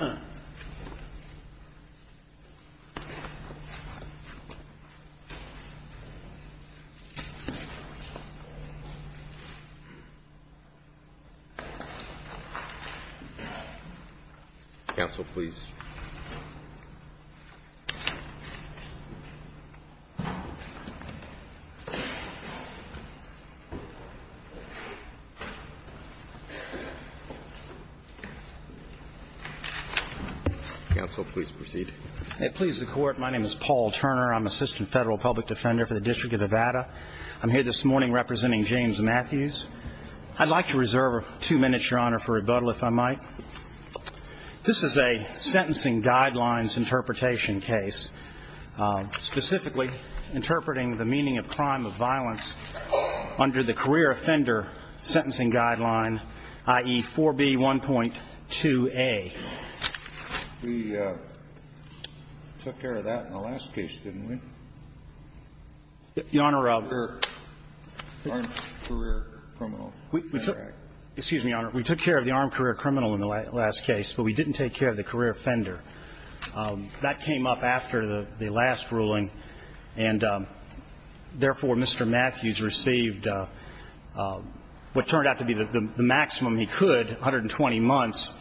Uh, Council, please. Council, please proceed. It pleases the Court. My name is Paul Turner. I'm Assistant Federal Public Defender for the District of Nevada. I'm here this morning representing James Matthews. I'd like to reserve two minutes, Your Honor, for rebuttal, if I might. This is a Sentencing Guidelines Interpretation case, specifically interpreting the meaning of crime of violence under the Career Offender Sentencing Guideline, i.e. 4B1.2a. We took care of that in the last case, didn't we? Your Honor, we took care of the Armed Career Criminal. In the last case, but we didn't take care of the Career Offender. That came up after the last ruling, and therefore Mr. Matthews received what turned out to be the maximum he could, 120 months.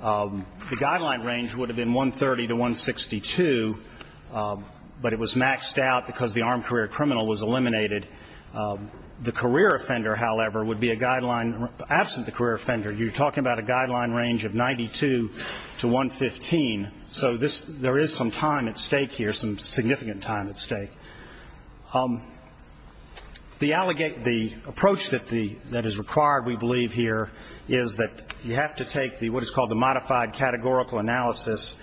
The guideline range would have been 130 to 162, but it was maxed out because the Armed Career Criminal was eliminated. The Career Offender, however, would be a guideline. Absent the Career Offender, you're talking about a guideline range of 92 to 115. So there is some time at stake here, some significant time at stake. The approach that is required, we believe here, is that you have to take what is called the modified categorical analysis.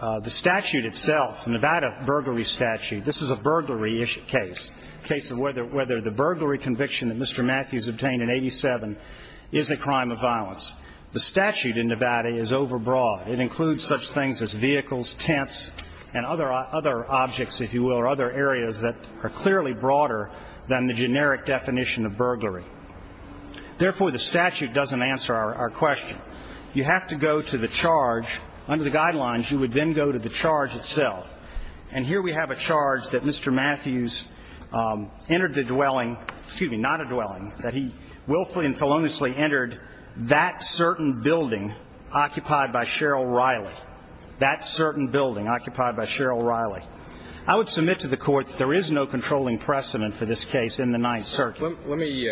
The statute itself, the Nevada burglary statute, this is a burglary-ish case, a case of whether the burglary conviction that Mr. Matthews obtained in 87 is a crime of violence. The statute in Nevada is overbroad. It includes such things as vehicles, tents, and other objects, if you will, or other areas that are clearly broader than the generic definition of burglary. Therefore, the statute doesn't answer our question. You have to go to the charge. Under the guidelines, you would then go to the charge itself. And here we have a charge that Mr. Matthews entered the dwelling, excuse me, not a dwelling, that he willfully and feloniously entered that certain building occupied by Cheryl Riley, that certain building occupied by Cheryl Riley. I would submit to the Court that there is no controlling precedent for this case in the Ninth Circuit. Let me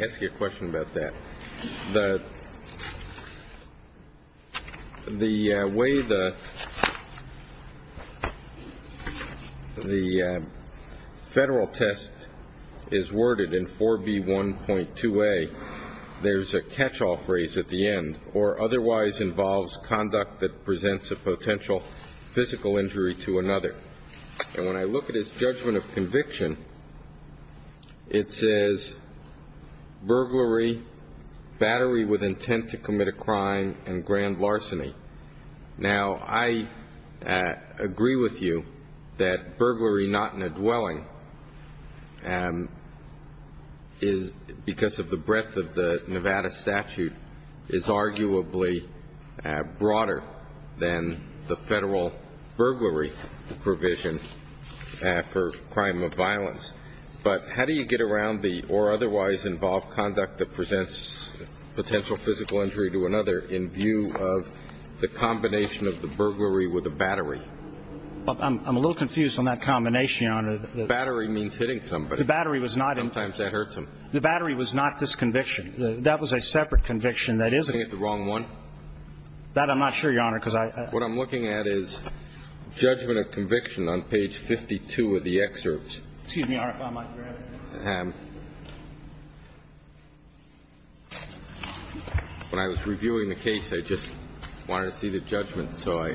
ask you a question about that. The way the federal test is worded in 4B1.2a, there's a catch-all phrase at the end, or otherwise involves conduct that presents a potential physical injury to another. And when I look at his judgment of conviction, it says, burglary, battery with intent to commit a crime, and grand larceny. Now, I agree with you that burglary not in a dwelling is, because of the breadth of the Nevada statute, is arguably broader than the federal burglary provision for crime of violence. But how do you get around the or otherwise involve conduct that presents potential physical injury to another in view of the combination of the burglary with the battery? I'm a little confused on that combination, Your Honor. The battery means hitting somebody. The battery was not. Sometimes that hurts them. The battery was not this conviction. That was a separate conviction that isn't. Is he looking at the wrong one? That I'm not sure, Your Honor, because I – What I'm looking at is judgment of conviction on page 52 of the excerpt. Excuse me, Your Honor, if I might. Go ahead. When I was reviewing the case, I just wanted to see the judgment, so I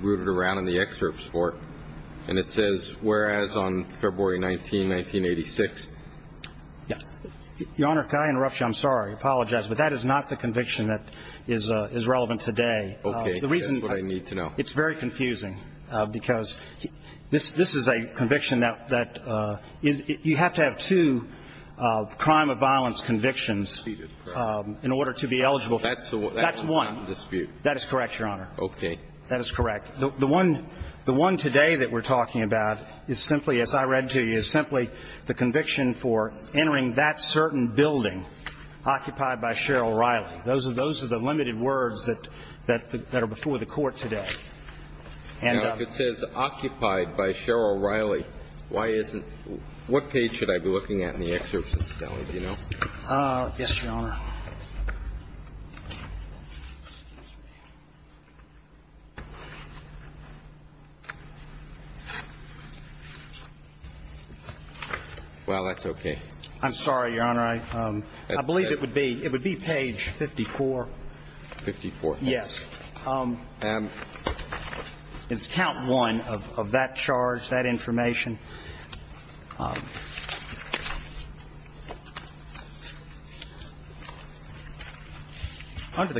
rooted around And it says, whereas, on February 19, 1986. Your Honor, can I interrupt you? I'm sorry. I apologize, but that is not the conviction that is relevant today. Okay. That's what I need to know. It's very confusing, because this is a conviction that you have to have two crime of violence convictions in order to be eligible. That's one. That's one dispute. That is correct, Your Honor. Okay. That is correct. The one today that we're talking about is simply, as I read to you, is simply the conviction for entering that certain building occupied by Cheryl Riley. Those are the limited words that are before the Court today. Now, if it says occupied by Cheryl Riley, why isn't – what page should I be looking at in the excerpt, Mr. Kelly? Do you know? Yes, Your Honor. Well, that's okay. I'm sorry, Your Honor. I believe it would be – it would be page 54. 54. Yes. And? It's count one of that charge, that information.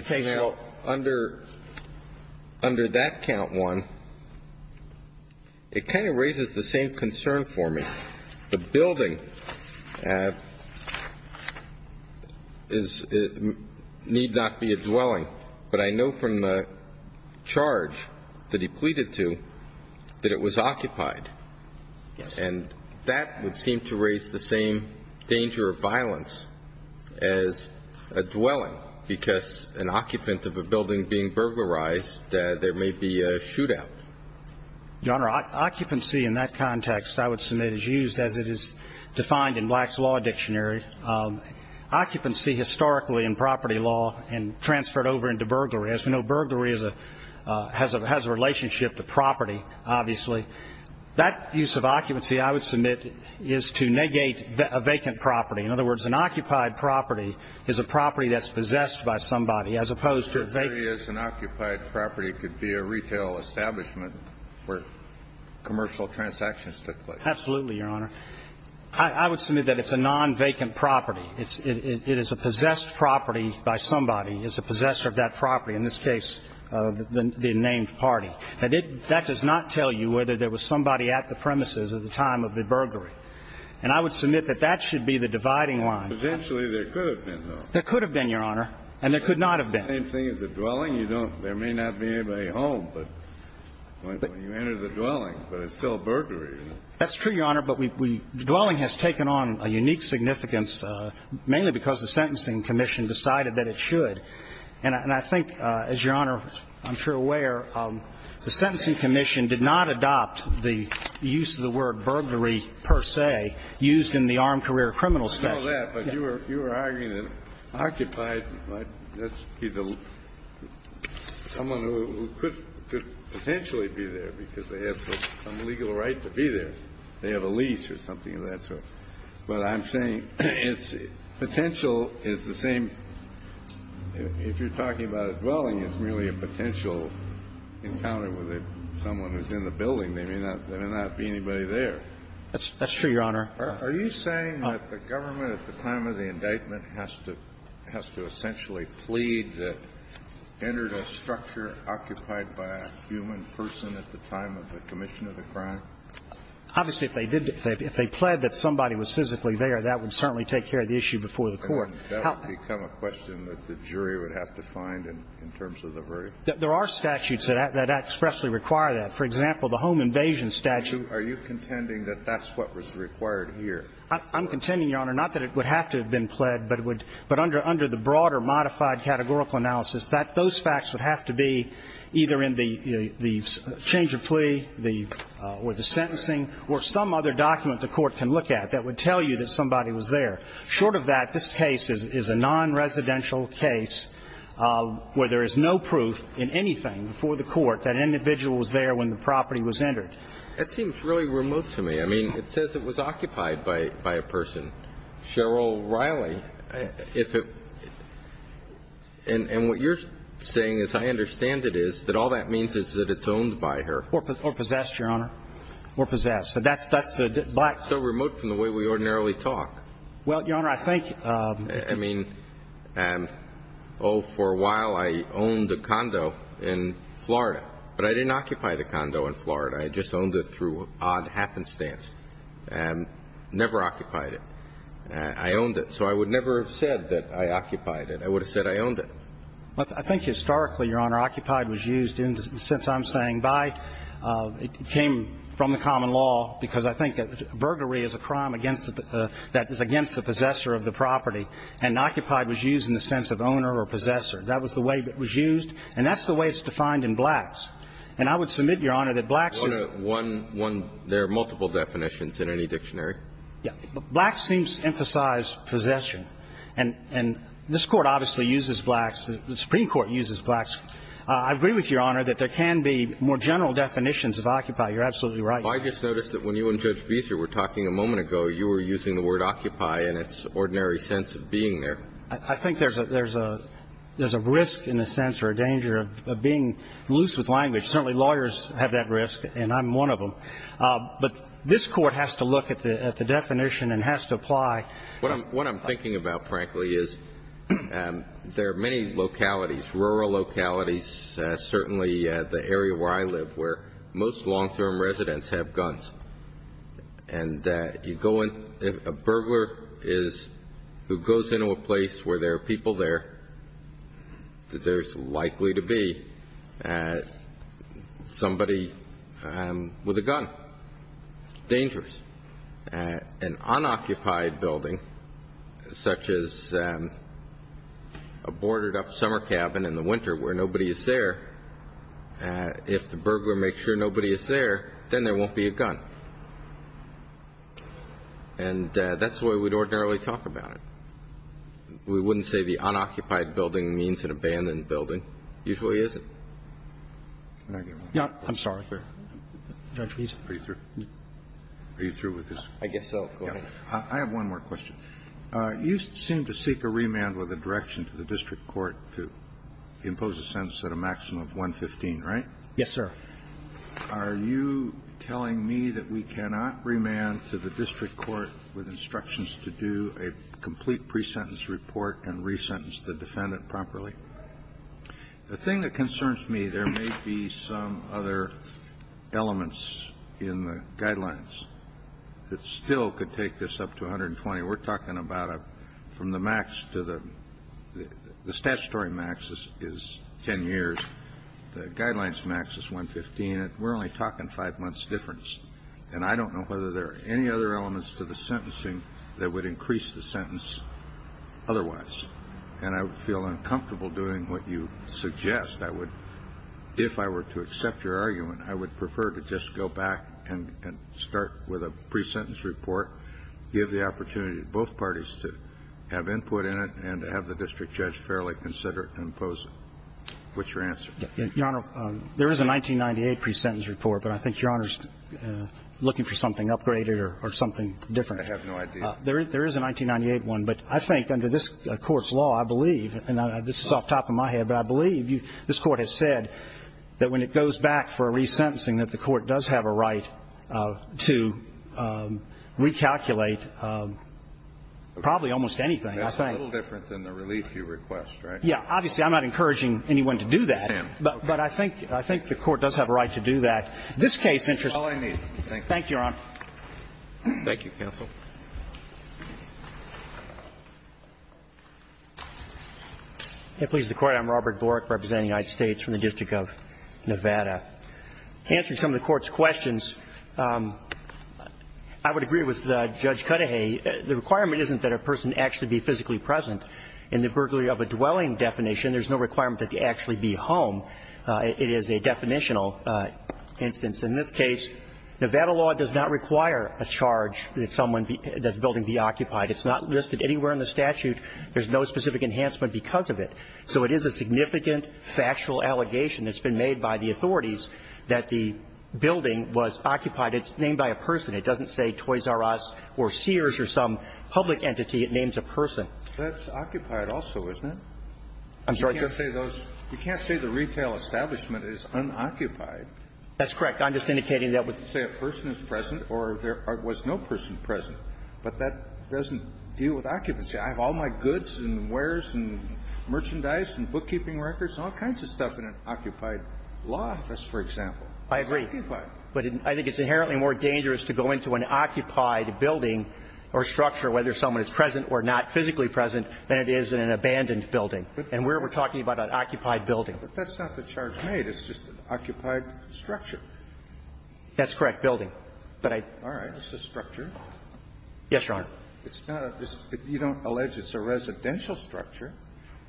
Now, under that count one, it kind of raises the same concern for me. The building is – need not be a dwelling. But I know from the charge that he pleaded to that it was occupied. Yes. And that would seem to raise the same danger of violence as a dwelling because an occupant of a building being burglarized, there may be a shootout. Your Honor, occupancy in that context, I would submit, is used as it is defined in Black's Law Dictionary. Occupancy historically in property law and transferred over into burglary. As we know, burglary is a – has a relationship to property, obviously. That use of occupancy, I would submit, is to negate a vacant property. In other words, an occupied property is a property that's possessed by somebody as opposed to a vacant. If it really is an occupied property, it could be a retail establishment where commercial transactions took place. Absolutely, Your Honor. I would submit that it's a non-vacant property. It is a possessed property by somebody. It's a possessor of that property. In this case, the named party. That does not tell you whether there was somebody at the premises at the time of the burglary. And I would submit that that should be the dividing line. Potentially, there could have been, though. There could have been, Your Honor, and there could not have been. Same thing as a dwelling. You don't – there may not be anybody home, but when you enter the dwelling, but it's still a burglary. That's true, Your Honor, but we – dwelling has taken on a unique significance, mainly because the Sentencing Commission decided that it should. And I think, as Your Honor, I'm sure, aware, the Sentencing Commission did not adopt the use of the word burglary, per se, used in the armed career criminal statute. I know that, but you were – you were arguing that occupied might be the – someone who could potentially be there because they have some legal right to be there. They have a lease or something of that sort. But I'm saying it's – potential is the same – if you're talking about a dwelling, it's merely a potential encounter with someone who's in the building. There may not be anybody there. That's true, Your Honor. Are you saying that the government, at the time of the indictment, has to – has to essentially plead that entered a structure occupied by a human person at the time of the commission of the crime? Obviously, if they did – if they pled that somebody was physically there, that would certainly take care of the issue before the court. That would become a question that the jury would have to find in terms of the verdict. There are statutes that expressly require that. For example, the home invasion statute. Are you contending that that's what was required here? I'm contending, Your Honor, not that it would have to have been pled, but it would – but under the broader modified categorical analysis, that – those facts would have to be either in the change of plea, the – or the sentencing, or some other document the court can look at that would tell you that somebody was there. Short of that, this case is a non-residential case where there is no proof in anything before the court that an individual was there when the property was entered. That seems really remote to me. I mean, it says it was occupied by a person. Cheryl Riley, if it – and what you're saying is I understand it is that all that means is that it's owned by her. Or possessed, Your Honor. Or possessed. So that's the – It's so remote from the way we ordinarily talk. Well, Your Honor, I think – I mean, oh, for a while I owned a condo in Florida, but I didn't occupy the condo in Florida. I just owned it through odd happenstance. Never occupied it. I owned it. So I would never have said that I occupied it. I would have said I owned it. I think historically, Your Honor, occupied was used in the sense I'm saying by – it came from the common law because I think that burglary is a crime against the – that is against the possessor of the property. And occupied was used in the sense of owner or possessor. That was the way it was used. And that's the way it's defined in Blacks. And I would submit, Your Honor, that Blacks is – One – there are multiple definitions in any dictionary. Yeah. Blacks seems to emphasize possession. And this Court obviously uses Blacks. The Supreme Court uses Blacks. I agree with Your Honor that there can be more general definitions of occupy. You're absolutely right. I just noticed that when you and Judge Beeser were talking a moment ago, you were using the word occupy in its ordinary sense of being there. I think there's a risk in a sense or a danger of being loose with language. Certainly lawyers have that risk, and I'm one of them. But this Court has to look at the definition and has to apply. What I'm thinking about, frankly, is there are many localities, rural localities, certainly the area where I live where most long-term residents have guns. And you go in – if a burglar is – who goes into a place where there are people there, there's likely to be somebody with a gun. It's dangerous. An unoccupied building, such as a boarded-up summer cabin in the winter where nobody is there, if the burglar makes sure nobody is there, then there won't be a gun. And that's the way we'd ordinarily talk about it. We wouldn't say the unoccupied building means an abandoned building. It usually isn't. Can I get one? I'm sorry. Judge Beeser. Are you through? Are you through with this? I guess so. Go ahead. I have one more question. You seem to seek a remand with a direction to the district court to impose a sense of a maximum of 115, right? Yes, sir. Are you telling me that we cannot remand to the district court with instructions to do a complete pre-sentence report and re-sentence the defendant properly? The thing that concerns me, there may be some other elements in the guidelines that still could take this up to 120. We're talking about from the max to the statutory max is 10 years. The guidelines max is 115. We're only talking five months difference. And I don't know whether there are any other elements to the sentencing that would increase the sentence otherwise. And I would feel uncomfortable doing what you suggest. If I were to accept your argument, I would prefer to just go back and start with a pre-sentence report, give the opportunity to both parties to have input in it, and to have the district judge fairly consider it and impose it. What's your answer? Your Honor, there is a 1998 pre-sentence report. But I think Your Honor is looking for something upgraded or something different. I have no idea. There is a 1998 one. But I think under this Court's law, I believe, and this is off the top of my head, but I believe this Court has said that when it goes back for a re-sentencing that the Court does have a right to recalculate probably almost anything, I think. That's a little different than the relief you request, right? Yeah. Obviously, I'm not encouraging anyone to do that. But I think the Court does have a right to do that. This case interests me. That's all I need. Thank you. Thank you, Your Honor. Thank you, counsel. It pleases the Court. I'm Robert Borick representing the United States from the District of Nevada. Answering some of the Court's questions, I would agree with Judge Cudahy. The requirement isn't that a person actually be physically present. In the burglary of a dwelling definition, there's no requirement that they actually be home. It is a definitional instance. In this case, Nevada law does not require a charge that someone be – that the building be occupied. It's not listed anywhere in the statute. There's no specific enhancement because of it. So it is a significant factual allegation that's been made by the authorities that the building was occupied. It's named by a person. It doesn't say Toys R Us or Sears or some public entity. It names a person. That's occupied also, isn't it? I'm sorry? You can't say those – you can't say the retail establishment is unoccupied. That's correct. I'm just indicating that was – You can't say a person is present or there was no person present. But that doesn't deal with occupancy. I have all my goods and wares and merchandise and bookkeeping records, all kinds of stuff in an occupied law office, for example. I agree. But I think it's inherently more dangerous to go into an occupied building or structure, whether someone is present or not, physically present, than it is in an abandoned building. And we're talking about an occupied building. But that's not the charge made. It's just an occupied structure. That's correct, building. But I – It's a structure. Yes, Your Honor. It's not a – you don't allege it's a residential structure.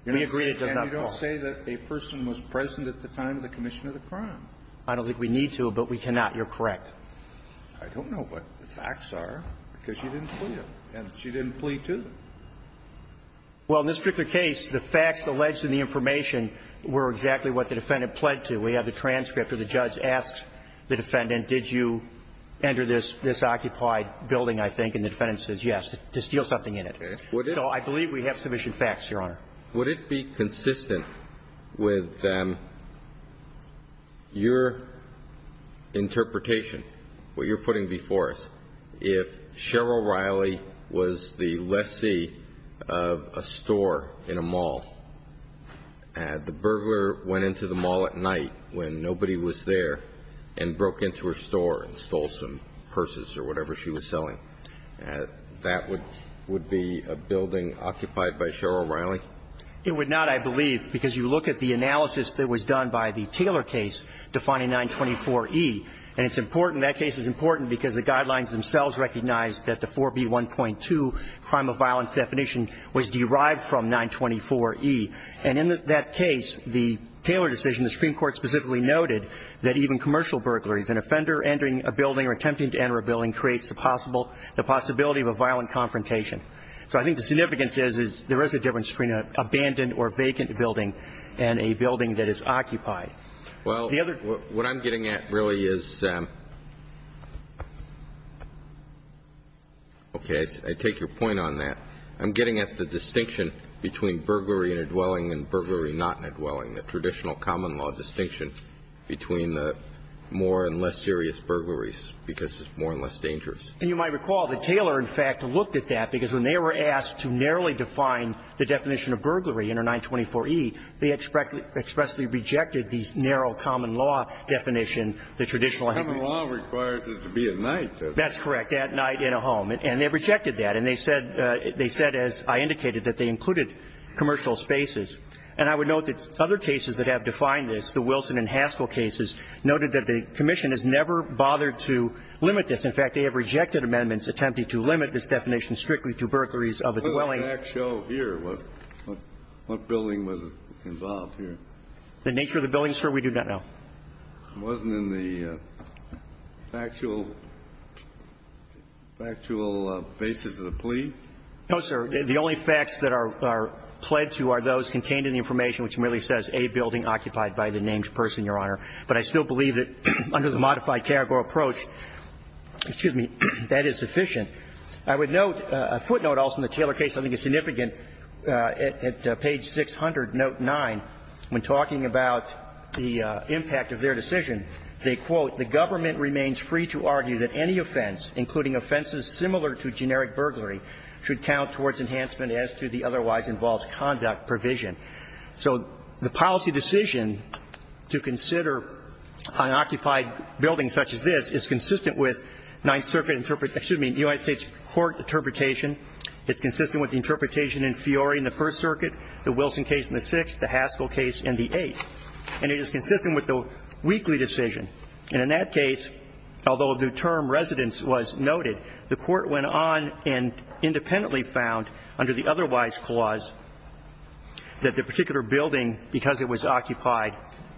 We agree it does not fall. And you don't say that a person was present at the time of the commission of the crime. I don't think we need to, but we cannot. You're correct. I don't know what the facts are, because you didn't plead them. And she didn't plead to them. Well, in this particular case, the facts alleged in the information were exactly what the defendant pled to. We have the transcript where the judge asks the defendant, did you enter this occupied building, I think, and the defendant says yes, to steal something in it. Okay. Would it – So I believe we have sufficient facts, Your Honor. Would it be consistent with your interpretation, what you're putting before us, if Cheryl Riley was the lessee of a store in a mall, the burglar went into the mall at night when nobody was there and broke into her store and stole some purses or whatever she was selling. That would be a building occupied by Cheryl Riley? It would not, I believe, because you look at the analysis that was done by the Taylor case defining 924E, and it's important – that case is important because the guidelines themselves recognize that the 4B1.2 crime of violence definition was derived from 924E. And in that case, the Taylor decision, the Supreme Court specifically noted that even commercial burglaries, an offender entering a building or attempting to enter a building creates the possibility of a violent confrontation. So I think the significance is there is a difference between an abandoned or vacant building and a building that is occupied. Well, what I'm getting at really is – okay. I take your point on that. I'm getting at the distinction between burglary in a dwelling and burglary not in a dwelling, the traditional common law distinction between the more and less serious burglaries because it's more and less dangerous. And you might recall that Taylor, in fact, looked at that because when they were asked to narrowly define the definition of burglary under 924E, they expressly rejected the narrow common law definition, the traditional common law. Common law requires it to be at night. That's correct, at night in a home. And they rejected that. And they said – they said, as I indicated, that they included commercial spaces. And I would note that other cases that have defined this, the Wilson and Haskell cases, noted that the commission has never bothered to limit this. In fact, they have rejected amendments attempting to limit this definition strictly to burglaries of a dwelling. What does the facts show here? What building was involved here? The nature of the building, sir, we do not know. It wasn't in the factual basis of the plea? No, sir. The only facts that are pled to are those contained in the information which merely says a building occupied by the named person, Your Honor. But I still believe that under the modified Karagor approach, excuse me, that is sufficient. I would note a footnote also in the Taylor case I think is significant. At page 600, note 9, when talking about the impact of their decision, they quote, the government remains free to argue that any offense, including offenses similar to generic burglary, should count towards enhancement as to the otherwise involved conduct provision. So the policy decision to consider an occupied building such as this is consistent with Ninth Circuit, excuse me, United States Court interpretation. It's consistent with the interpretation in Fiore in the First Circuit, the Wilson case in the Sixth, the Haskell case in the Eighth. And it is consistent with the Weekly decision. And in that case, although the term residence was noted, the Court went on and independently found under the otherwise clause that the particular building, because it was occupied,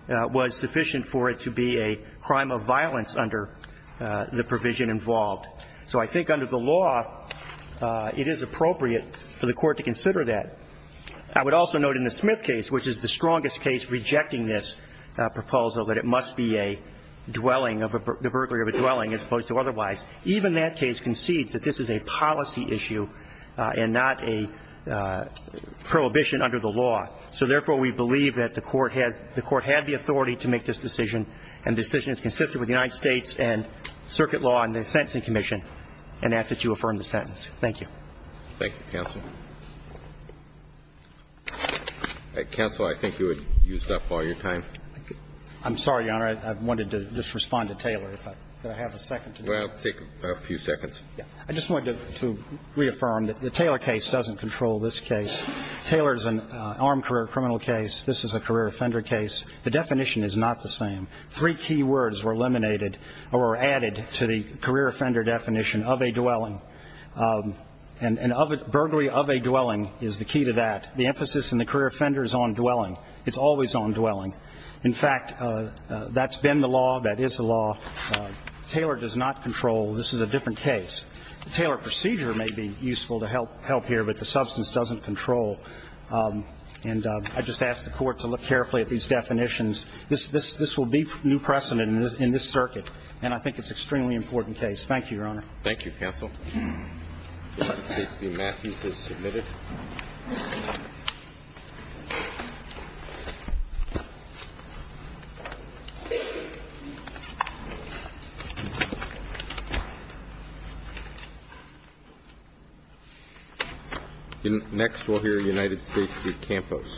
was sufficient for it to be a crime of violence under the provision involved. So I think under the law, it is appropriate for the Court to consider that. I would also note in the Smith case, which is the strongest case rejecting this proposal, that it must be a dwelling, the burglary of a dwelling as opposed to otherwise, even that case concedes that this is a policy issue and not a prohibition under the law. So therefore, we believe that the Court has the authority to make this decision, and the decision is consistent with the United States and Circuit law and the Sentencing Commission, and ask that you affirm the sentence. Thank you. Thank you, counsel. Counsel, I think you have used up all your time. I'm sorry, Your Honor. I wanted to just respond to Taylor. Well, take a few seconds. I just wanted to reaffirm that the Taylor case doesn't control this case. Taylor is an armed career criminal case. This is a career offender case. The definition is not the same. Three key words were eliminated or were added to the career offender definition of a dwelling. And burglary of a dwelling is the key to that. The emphasis in the career offender is on dwelling. It's always on dwelling. In fact, that's been the law. That is the law. Taylor does not control. This is a different case. The Taylor procedure may be useful to help here, but the substance doesn't control. And I just ask the Court to look carefully at these definitions. This will be new precedent in this circuit, and I think it's an extremely important case. Thank you, Your Honor. Thank you, counsel. States v. Matthews is submitted. Next, we'll hear United States v. Campos.